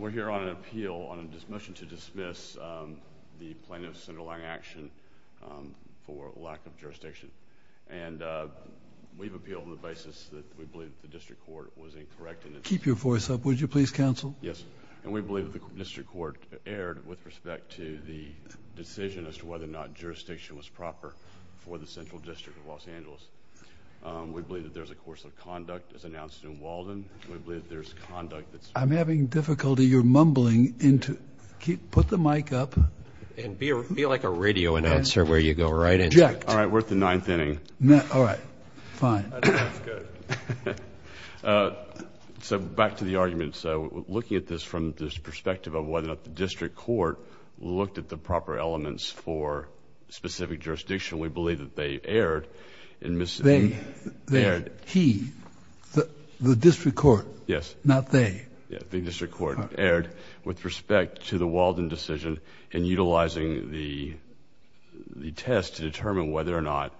We're here on an appeal on a motion to dismiss the plan of Senator Lang's action for lack of jurisdiction. And we've appealed on the basis that we believe the district court was incorrect in its decision. Keep your voice up, would you please counsel? Yes. And we believe the district court erred with respect to the decision as to whether or not We believe that there's a course of conduct, as announced in Walden, and we believe that there's conduct that's... I'm having difficulty. You're mumbling into... put the mic up. And be like a radio announcer where you go right into it. All right. We're at the ninth inning. All right. Fine. That's good. So, back to the argument. So, looking at this from this perspective of whether or not the district court looked at the proper elements for specific jurisdiction, we believe that they erred in... They. They. Erred. He. The district court. Yes. Not they. Yeah. The district court erred with respect to the Walden decision in utilizing the test to determine whether or not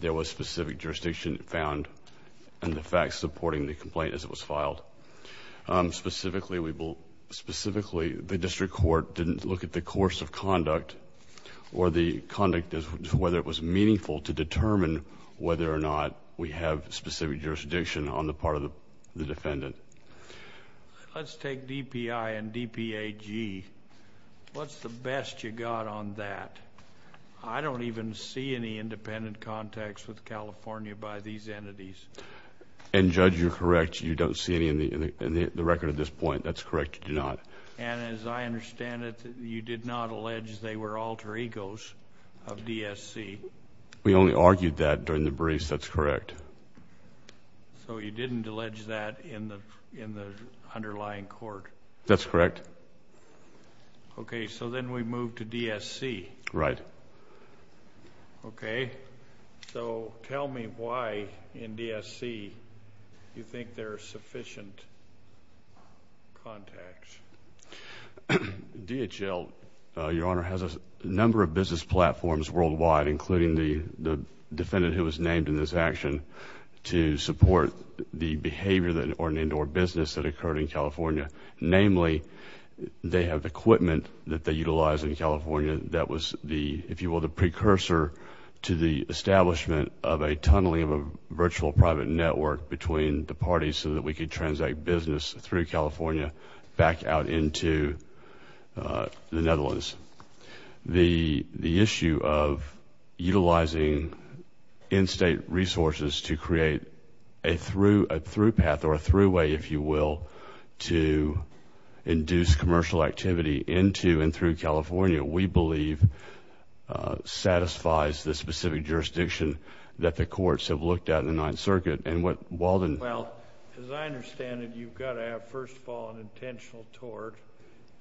there was specific jurisdiction found and the facts supporting the complaint as it was filed. Specifically, we believe... specifically, the district court didn't look at the course of conduct or the conduct as to whether it was meaningful to determine whether or not we have specific jurisdiction on the part of the defendant. Let's take DPI and DPAG. What's the best you got on that? I don't even see any independent contacts with California by these entities. And Judge, you're correct. You don't see any in the record at this point. That's correct. You do not. And as I understand it, you did not allege they were alter egos of DSC. We only argued that during the briefs. That's correct. So, you didn't allege that in the underlying court? That's correct. Okay. So, then we move to DSC. Right. Okay. So, tell me why in DSC you think there are sufficient contacts. DHL, Your Honor, has a number of business platforms worldwide, including the defendant who was named in this action, to support the behavior or business that occurred in California. Namely, they have equipment that they utilize in California that was, if you will, the precursor to the establishment of a tunneling of a virtual private network between the parties so that we could transact business through California back out into the Netherlands. The issue of utilizing in-state resources to create a through path or a through way, if you will, to induce commercial activity into and through California, we believe, satisfies the specific jurisdiction that the courts have looked at in the Ninth Circuit. And what, Walden? Well, as I understand it, you've got to have, first of all, an intentional tort,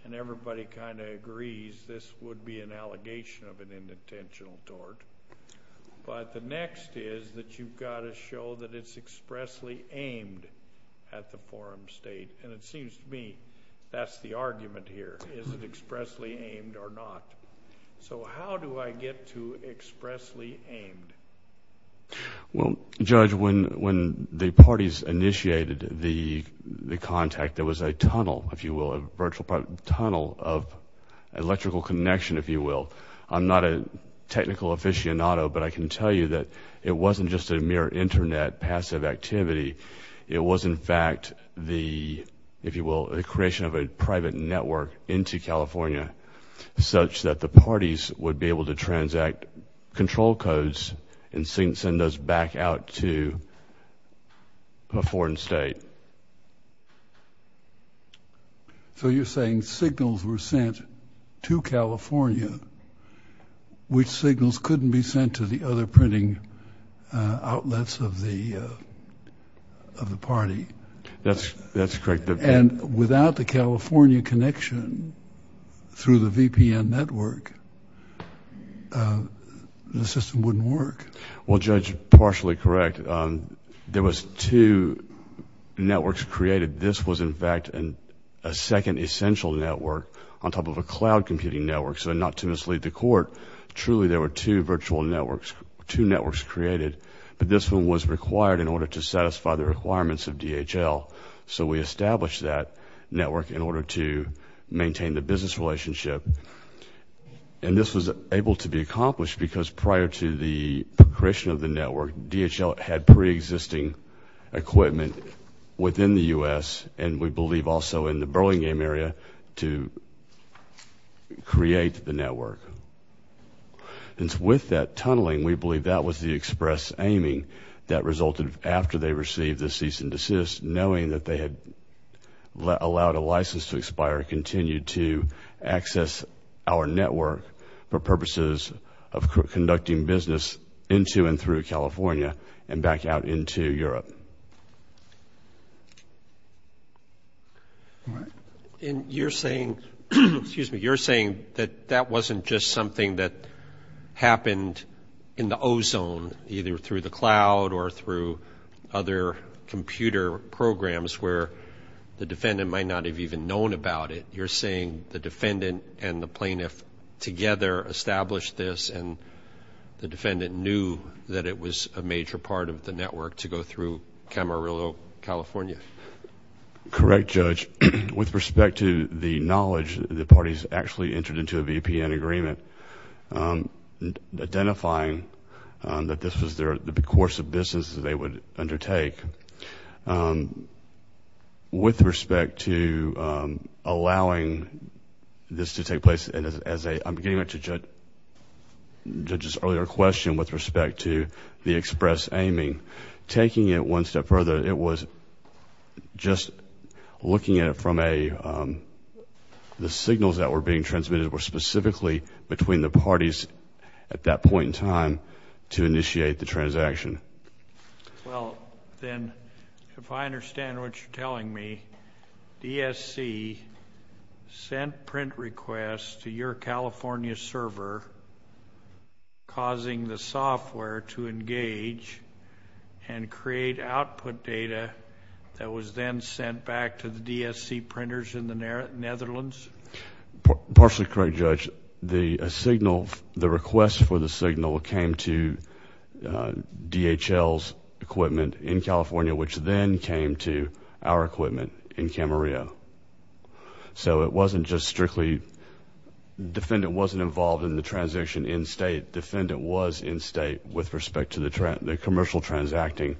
and everybody kind of agrees this would be an allegation of an intentional tort. But the next is that you've got to show that it's expressly aimed at the forum state. And it seems to me that's the argument here, is it expressly aimed or not. So how do I get to expressly aimed? Well, Judge, when the parties initiated the contact, there was a tunnel, if you will, a virtual tunnel of electrical connection, if you will. I'm not a technical aficionado, but I can tell you that it wasn't just a mere internet passive activity. It was, in fact, the, if you will, the creation of a private network into California such that the parties would be able to transact control codes and send those back out to a foreign state. So you're saying signals were sent to California, which signals couldn't be sent to the other printing outlets of the party? That's correct. And without the California connection through the VPN network, the system wouldn't work? Well, Judge, partially correct. There was two networks created. This was, in fact, a second essential network on top of a cloud computing network. So not to mislead the court, truly, there were two virtual networks, two networks created. But this one was required in order to satisfy the requirements of DHL. So we established that network in order to maintain the business relationship. And this was able to be accomplished because prior to the creation of the network, DHL had pre-existing equipment within the U.S. and we believe also in the Burlingame area to create the network. And with that tunneling, we believe that was the express aiming that resulted after they received the cease and desist, knowing that they had allowed a license to expire, continued to access our network for purposes of conducting business into and through California and back out into Europe. And you're saying, excuse me, you're saying that that wasn't just something that happened in the ozone, either through the cloud or through other computer programs where the defendant might not have even known about it. You're saying the defendant and the plaintiff together established this and the defendant knew that it was a major part of the network to go through Camarillo, California? Correct, Judge. With respect to the knowledge, the parties actually entered into a VPN agreement identifying that this was the course of business that they would undertake. With respect to allowing this to take place, and as I'm getting to Judge's earlier question with respect to the express aiming, taking it one step further, it was just looking at it from a, the signals that were being transmitted were specifically between the parties at that point in time to initiate the transaction. Well, then, if I understand what you're telling me, DSC sent print requests to your California server causing the software to engage and create output data that was then sent back to the DSC printers in the Netherlands? Partially correct, Judge. The request for the signal came to DHL's equipment in California, which then came to our equipment in Camarillo. It wasn't just strictly, defendant wasn't involved in the transaction in state. Defendant was in state with respect to the commercial transacting.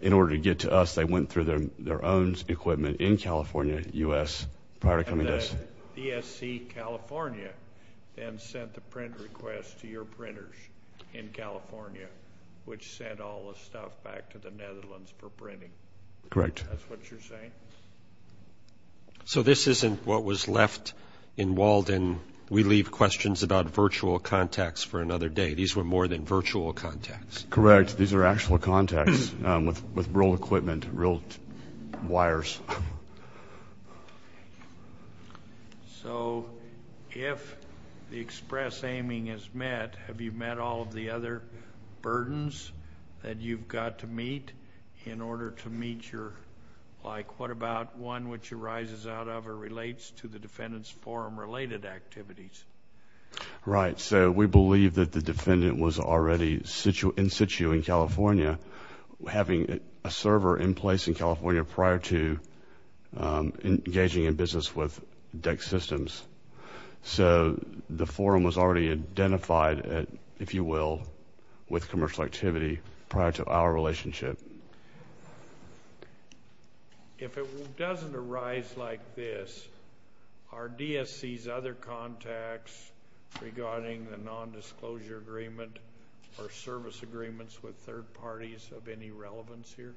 In order to get to us, they went through their own equipment in California, U.S., prior to coming to us. And then, DSC California then sent the print request to your printers in California, which sent all the stuff back to the Netherlands for printing. Correct. That's what you're saying? So this isn't what was left in Walden. We leave questions about virtual contacts for another day. These were more than virtual contacts. Correct. These are actual contacts with real equipment, real wires. So if the express aiming is met, have you met all of the other burdens that you've got to meet in order to meet your... like what about one which arises out of or relates to the defendant's forum related activities? Right. So we believe that the defendant was already in situ in California, having a server in place in California prior to engaging in business with DEC systems. So the forum was already identified, if you will, with commercial activity prior to our relationship. If it doesn't arise like this, are DSC's other contacts regarding the nondisclosure agreement or service agreements with third parties of any relevance here?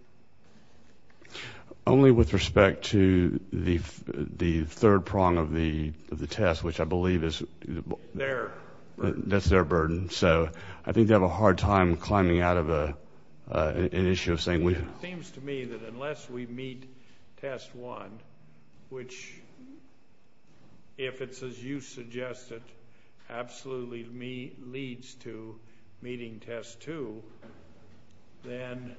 Only with respect to the third prong of the test, which I believe is... Their. That's their burden. So I think they have a hard time climbing out of an issue of saying... It seems to me that unless we meet test one, which if it's as you suggested, absolutely leads to meeting test two, then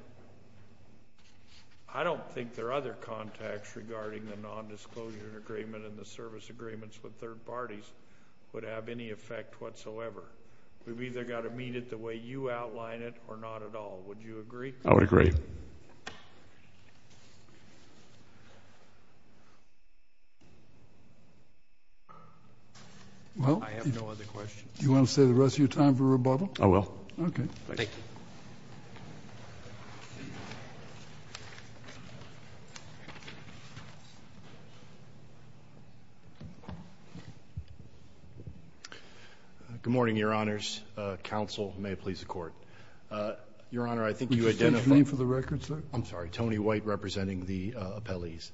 I don't think their other contacts regarding the nondisclosure agreement and the service agreements with third parties would have any effect whatsoever. We've either got to meet it the way you outline it or not at all. Would you agree? I would agree. Well... I have no other questions. Do you want to stay the rest of your time for rebuttal? Okay. Thank you. Good morning, Your Honor. Counsel, may it please the Court. Your Honor, I think you identified... Do you think it's me for the record, sir? I'm sorry, Tony White representing the appellees.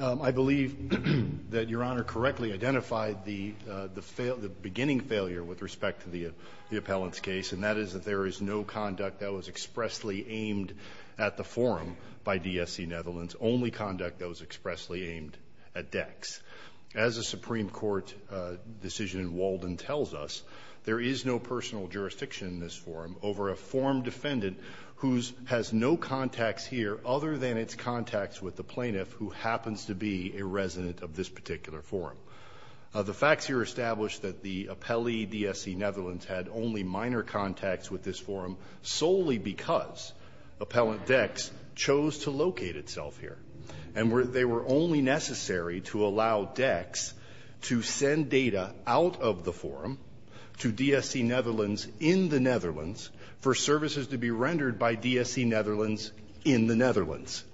I believe that Your Honor correctly identified the beginning failure with respect to the appellant's case, and that is that there is no conduct that was expressly aimed at the forum by DSC Netherlands, only conduct that was expressly aimed at DECCS. As a Supreme Court decision in Walden tells us, there is no personal jurisdiction in this forum over a forum defendant who has no contacts here other than its contacts with the plaintiff who happens to be a resident of this particular forum. The facts here establish that the appellee, DSC Netherlands, had only minor contacts with this forum solely because appellant DECCS chose to locate itself here, and they were only necessary to allow DECCS to send data out of the forum to DSC Netherlands in the Netherlands for services to be rendered by DSC Netherlands in the Netherlands.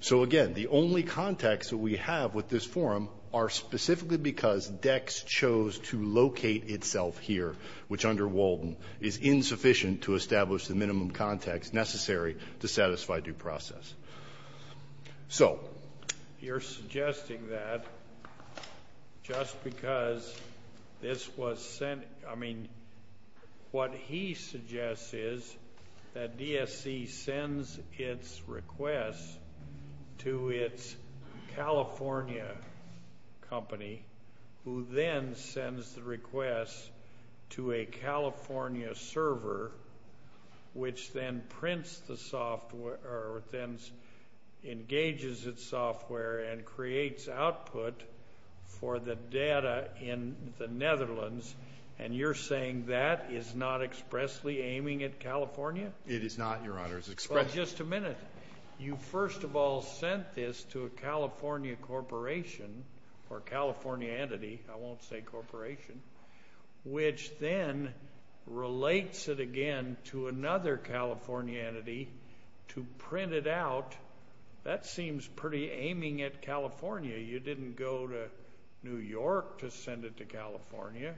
So again, the only contacts that we have with this forum are specifically because DECCS chose to locate itself here, which under Walden is insufficient to establish the minimum contacts necessary to satisfy due process. So you're suggesting that just because this was sent, I mean, what he suggests is that DSC sends its request to its California company, who then sends the request to a California server, which then prints the software, or then engages its software and creates output for the data in the Netherlands, and you're saying that is not expressly aiming at California? It is not, Your Honor. It's expressly— Well, just a minute. You first of all sent this to a California corporation, or a California entity, I won't say corporation, which then relates it again to another California entity to print it out. That seems pretty aiming at California. You didn't go to New York to send it to California.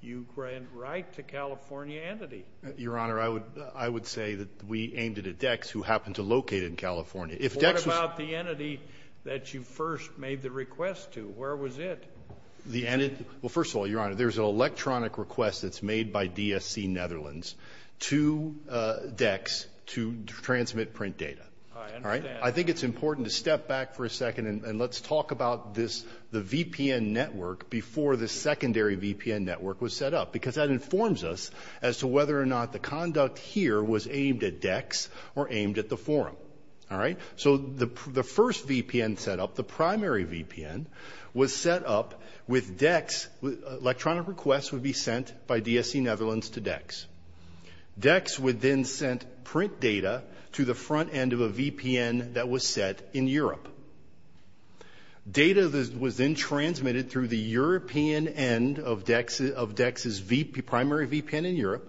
You went right to California entity. Your Honor, I would say that we aimed it at DECCS, who happened to locate it in California. If DECCS was— What about the entity that you first made the request to? Where was it? Well, first of all, Your Honor, there's an electronic request that's made by DSC Netherlands to DECCS to transmit print data. I think it's important to step back for a second and let's talk about the VPN network before the secondary VPN network was set up, because that informs us as to whether or not the conduct here was aimed at DECCS or aimed at the forum. The first VPN set up, the primary VPN, was set up with DECCS. Electronic requests would be sent by DSC Netherlands to DECCS. DECCS would then send print data to the front end of a VPN that was set in Europe. Data was then transmitted through the European end of DECCS's primary VPN in Europe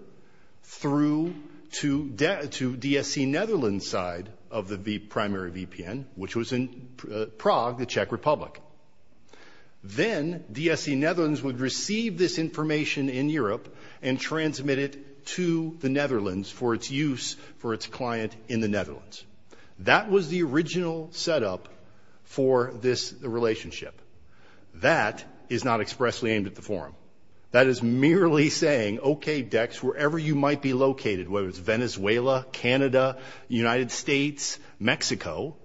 through to DSC Netherlands' side of the primary VPN, which was in Prague, the Czech Republic. Then DSC Netherlands would receive this information in Europe and transmit it to the Netherlands for its use for its client in the Netherlands. That was the original setup for this relationship. That is merely saying, okay, DECCS, wherever you might be located, whether it's Venezuela, Canada, United States, Mexico,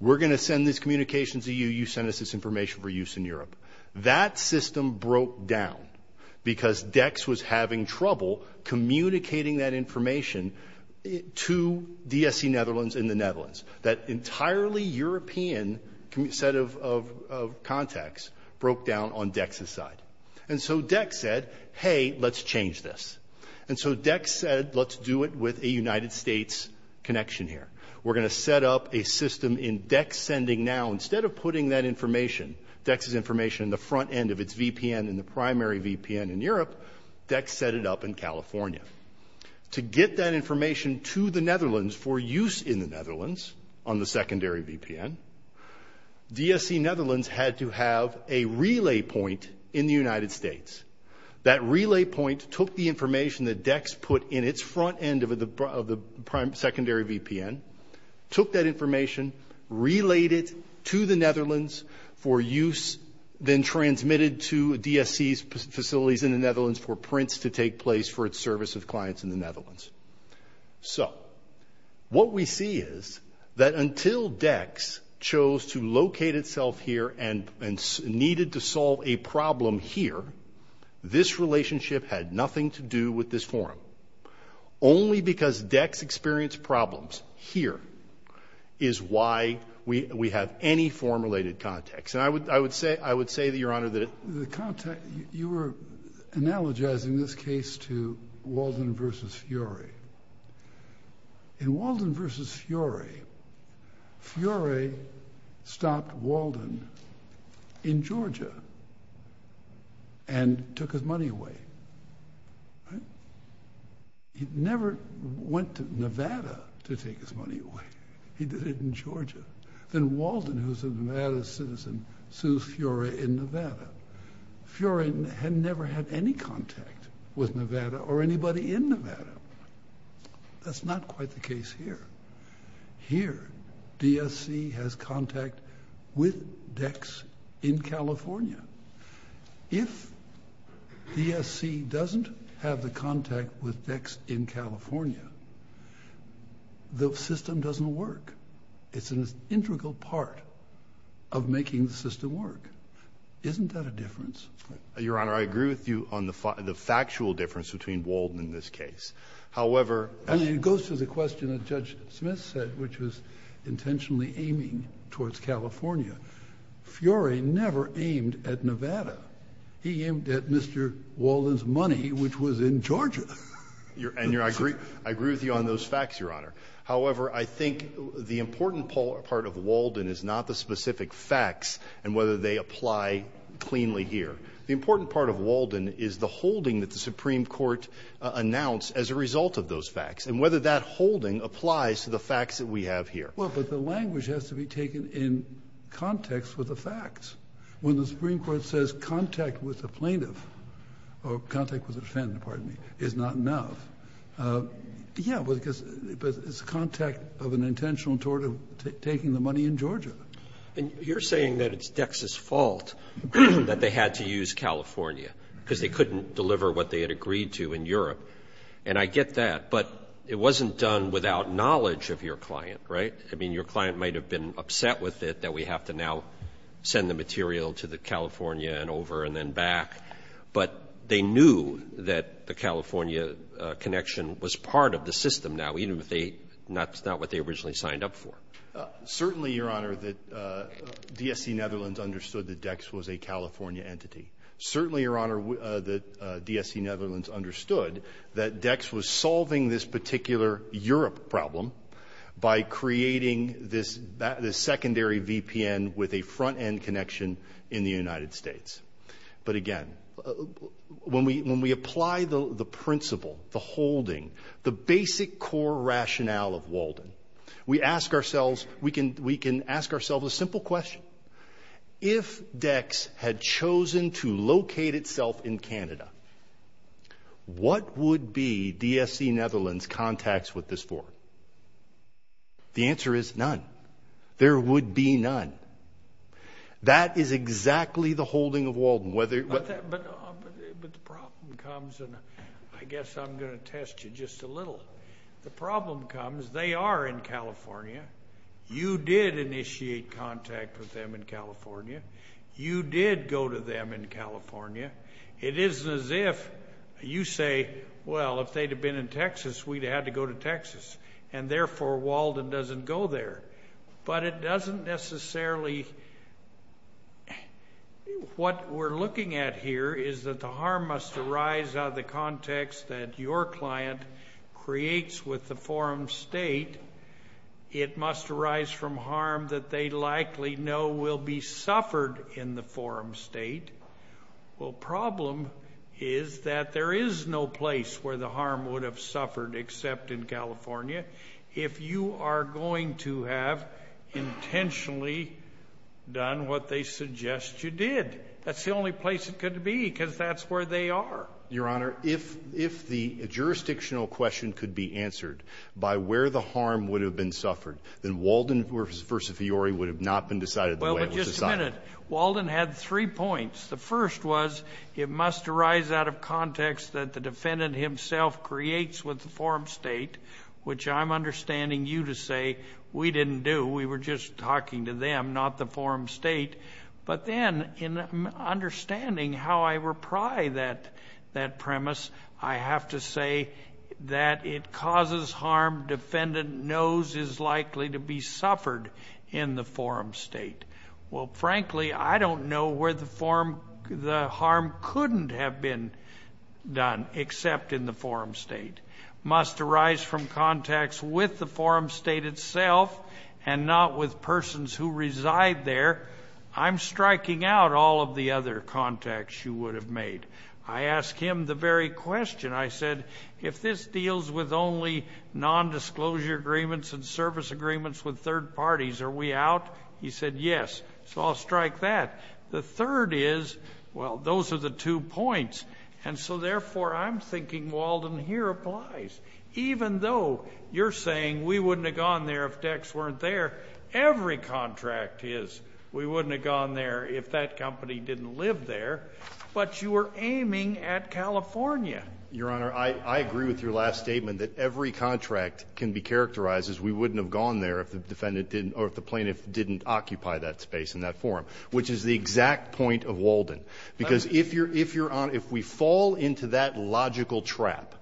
we're going to send this communication to you. You send us this information for use in Europe. That system broke down because DECCS was having trouble communicating that information to DSC Netherlands in the Netherlands. That entirely European set of contacts broke down on DECCS's side. And so DECCS said, hey, let's change this. And so DECCS said, let's do it with a United States connection here. We're going to set up a system in DECCS sending now, instead of putting that information, DECCS's information in the front end of its VPN in the primary VPN in Europe, DECCS set it up in California. To get that information to the Netherlands for use in the Netherlands on the secondary VPN, DSC Netherlands had to have a relay point in the United States. That relay point took the information that DECCS put in its front end of the secondary VPN, took that information, relayed it to the Netherlands for use, then transmitted to DSC's facilities in the Netherlands for prints to take place for its service of clients in the Netherlands. So what we see is that until DECCS chose to locate itself here and needed to solve a problem here, this relationship had nothing to do with this forum. Only because DECCS experienced problems here is why we have any forum-related contacts. And I would say, I would say that, Your Honor, that it. The contact, you were analogizing this case to Walden versus Fiore. In Walden versus Fiore, Fiore stopped Walden in Georgia and took his money away, right? He never went to Nevada to take his money away. He did it in Georgia. Then Walden, who's a Nevada citizen, sues Fiore in Nevada. Fiore had never had any contact with Nevada or anybody in Nevada. That's not quite the case here. Here, DSC has contact with DECCS in California. If DSC doesn't have the contact with DECCS in California, the system doesn't work. It's an integral part of making the system work. Isn't that a difference? Your Honor, I agree with you on the factual difference between Walden and this case. However... And it goes to the question that Judge Smith said, which was intentionally aiming towards California. Fiore never aimed at Nevada. He aimed at Mr. Walden's money, which was in Georgia. And I agree with you on those facts, Your Honor. However, I think the important part of Walden is not the specific facts and whether they apply cleanly here. The important part of Walden is the holding that the Supreme Court announced as a result of those facts, and whether that holding applies to the facts that we have here. Well, but the language has to be taken in context with the facts. When the Supreme Court says contact with a plaintiff, or contact with a defendant, pardon me, is not enough, yeah, but it's contact of an intentional toward taking the money in Georgia. And you're saying that it's Dex's fault that they had to use California, because they couldn't deliver what they had agreed to in Europe. And I get that, but it wasn't done without knowledge of your client, right? I mean, your client might have been upset with it that we have to now send the material to the California and over and then back. But they knew that the California connection was part of the system now, even if that's not what they originally signed up for. Certainly, Your Honor, that DSC Netherlands understood that Dex was a California entity. Certainly, Your Honor, that DSC Netherlands understood that Dex was solving this particular Europe problem by creating this secondary VPN with a front-end connection in the United States. But again, when we apply the principle, the holding, the basic core rationale of Walden, we ask ourselves, we can ask ourselves a simple question. If Dex had chosen to locate itself in Canada, what would be DSC Netherlands' contacts with this for? The answer is none. There would be none. That is exactly the holding of Walden. But the problem comes, and I guess I'm going to test you just a little. The problem comes, they are in California. You did initiate contact with them in California. You did go to them in California. It isn't as if you say, well, if they'd have been in Texas, we'd have had to go to Texas. And therefore, Walden doesn't go there. But it doesn't necessarily, what we're looking at here is that the harm must arise out of the context that your client creates with the forum state. It must arise from harm that they likely know will be suffered in the forum state. Well, problem is that there is no place where the harm would have suffered except in California. If you are going to have intentionally done what they suggest you did. That's the only place it could be because that's where they are. Your Honor, if the jurisdictional question could be answered by where the harm would have been suffered, then Walden versus Fiori would have not been decided the way it was decided. Walden had three points. The first was, it must arise out of context that the defendant himself creates with the forum state, which I'm understanding you to say we didn't do, we were just talking to them, not the forum state. But then, in understanding how I repry that premise, I have to say that it causes harm defendant knows is likely to be suffered in the forum state. Well, frankly, I don't know where the harm couldn't have been done except in the forum state. Must arise from contacts with the forum state itself and not with persons who reside there. I'm striking out all of the other contacts you would have made. I asked him the very question. I said, if this deals with only non-disclosure agreements and service agreements with third parties, are we out? He said, yes, so I'll strike that. The third is, well, those are the two points. And so, therefore, I'm thinking Walden here applies. Even though you're saying we wouldn't have gone there if Dex weren't there, every contract is we wouldn't have gone there if that company didn't live there. But you were aiming at California. Your Honor, I agree with your last statement that every contract can be characterized as we wouldn't have gone there if the plaintiff didn't occupy that space in that forum. Which is the exact point of Walden. Because if we fall into that logical trap,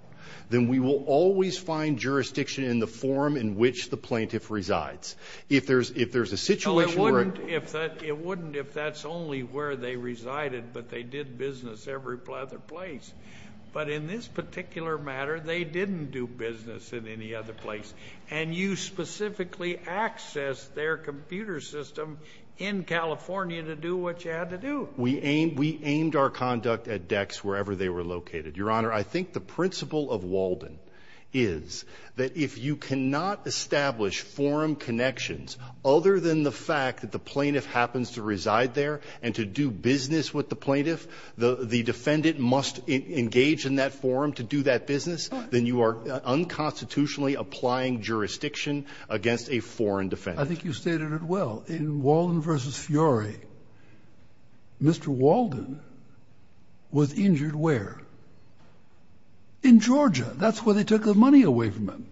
then we will always find jurisdiction in the forum in which the plaintiff resides. If there's a situation where- It wouldn't if that's only where they resided, but they did business every other place. But in this particular matter, they didn't do business in any other place. And you specifically accessed their computer system in California to do what you had to do. We aimed our conduct at Dex wherever they were located. Your Honor, I think the principle of Walden is that if you cannot establish forum connections other than the fact that the plaintiff happens to reside there and to do business with the plaintiff, the defendant must engage in that forum to do that business, then you are unconstitutionally applying jurisdiction against a foreign defendant. I think you stated it well. In Walden versus Fiore, Mr. Walden was injured where? In Georgia. That's where they took the money away from him.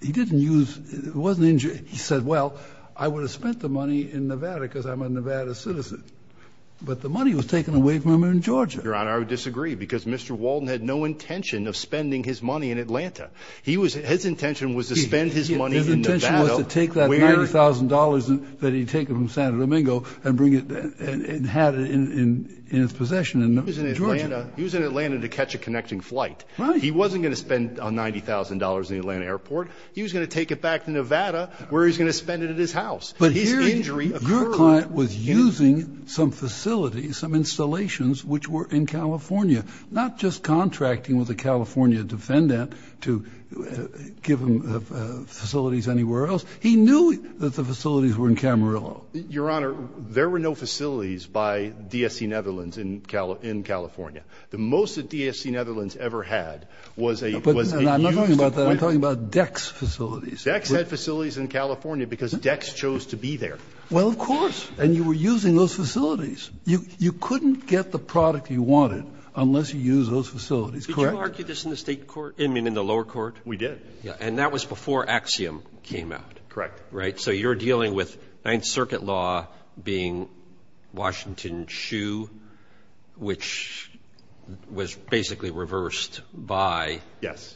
He didn't use, he wasn't injured. He said, well, I would have spent the money in Nevada because I'm a Nevada citizen. But the money was taken away from him in Georgia. Your Honor, I would disagree because Mr. Walden had no intention of spending his money in Atlanta. He was, his intention was to spend his money in Nevada. His intention was to take that $90,000 that he had taken from Santa Domingo and bring it, and have it in his possession in Georgia. He was in Atlanta to catch a connecting flight. He wasn't going to spend $90,000 in the Atlanta airport. He was going to take it back to Nevada where he was going to spend it at his house. His injury occurred. Your client was using some facilities, some installations which were in California. Not just contracting with a California defendant to give him facilities anywhere else. He knew that the facilities were in Camarillo. Your Honor, there were no facilities by DSC Netherlands in California. The most that DSC Netherlands ever had was a- But I'm not talking about that, I'm talking about Dex facilities. Dex had facilities in California because Dex chose to be there. Well, of course. And you were using those facilities. You couldn't get the product you wanted unless you used those facilities, correct? Did you argue this in the state court? I mean, in the lower court? We did. Yeah, and that was before Axiom came out. Correct. Right, so you're dealing with Ninth Circuit law being Washington Shoe, which was basically reversed by- Yes.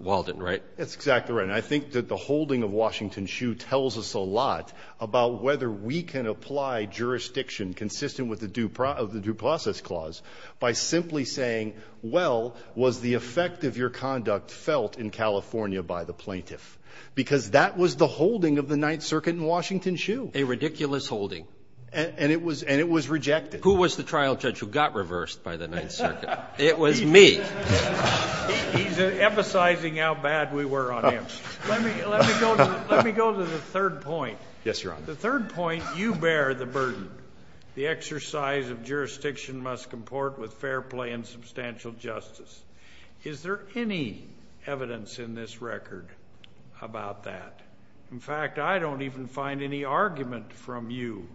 Walden, right? That's exactly right. And I think that the holding of Washington Shoe tells us a lot about whether we can apply jurisdiction consistent with the due process clause by simply saying, well, was the effect of your conduct felt in California by the plaintiff? Because that was the holding of the Ninth Circuit in Washington Shoe. A ridiculous holding. And it was rejected. Who was the trial judge who got reversed by the Ninth Circuit? It was me. He's emphasizing how bad we were on him. Let me go to the third point. Yes, Your Honor. The third point, you bear the burden. The exercise of jurisdiction must comport with fair play and substantial justice. Is there any evidence in this record about that? In fact, I don't even find any argument from you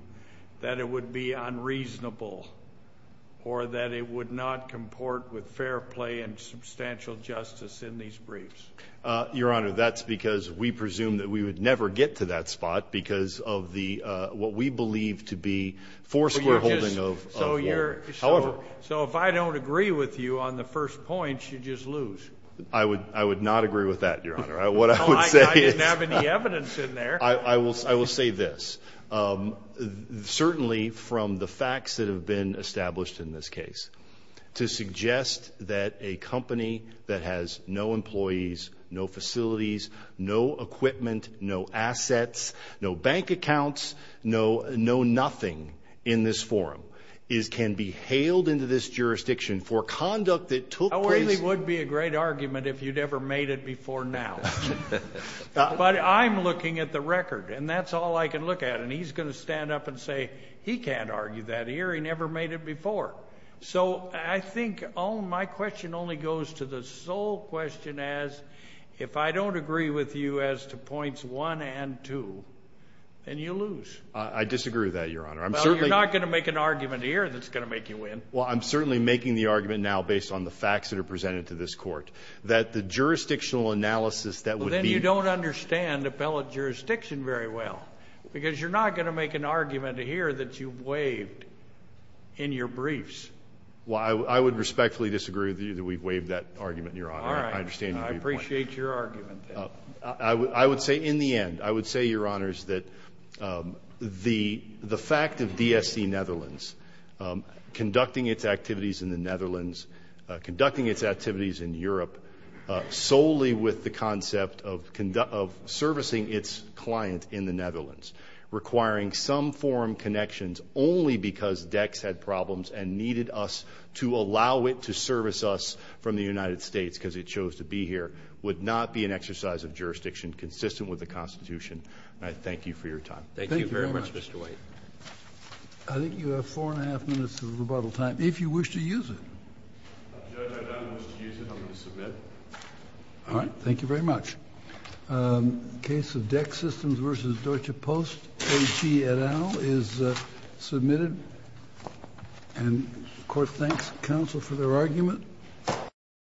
that it would be unreasonable or that it would not comport with fair play and substantial justice in these briefs. Your Honor, that's because we presume that we would never get to that spot because of what we believe to be foursquare holding of Walden. However- So if I don't agree with you on the first point, you just lose. What I would say is- I didn't have any evidence in there. I will say this. Certainly, from the facts that have been established in this case, to suggest that a company that has no employees, no facilities, no equipment, no assets, no bank accounts, no nothing in this forum can be hailed into this jurisdiction for conduct that took place- I really would be a great argument if you'd ever made it before now. But I'm looking at the record, and that's all I can look at. And he's going to stand up and say, he can't argue that here. He never made it before. So I think all my question only goes to the sole question as, if I don't agree with you as to points one and two, then you lose. I disagree with that, Your Honor. I'm certainly- Well, you're not going to make an argument here that's going to make you win. Well, I'm certainly making the argument now, based on the facts that are presented to this court, that the jurisdictional analysis that would be- Well, then you don't understand appellate jurisdiction very well, because you're not going to make an argument here that you've waived in your briefs. Well, I would respectfully disagree with you that we've waived that argument, Your Honor. All right. I understand your point. I appreciate your argument, then. I would say, in the end, I would say, Your Honors, that the fact of DSC Netherlands conducting its activities in the Netherlands, conducting its activities in Europe solely with the concept of servicing its client in the Netherlands, requiring some form connections only because DEX had problems and needed us to allow it to service us from the United States, because it chose to be here, would not be an exercise of jurisdiction consistent with the Constitution. And I thank you for your time. Thank you very much, Mr. White. I think you have four and a half minutes of rebuttal time, if you wish to use it. Judge, I don't wish to use it. I'm going to submit. All right. Thank you very much. Case of DEX Systems versus Deutsche Post, A.G. et al. is submitted. And the court thanks counsel for their argument.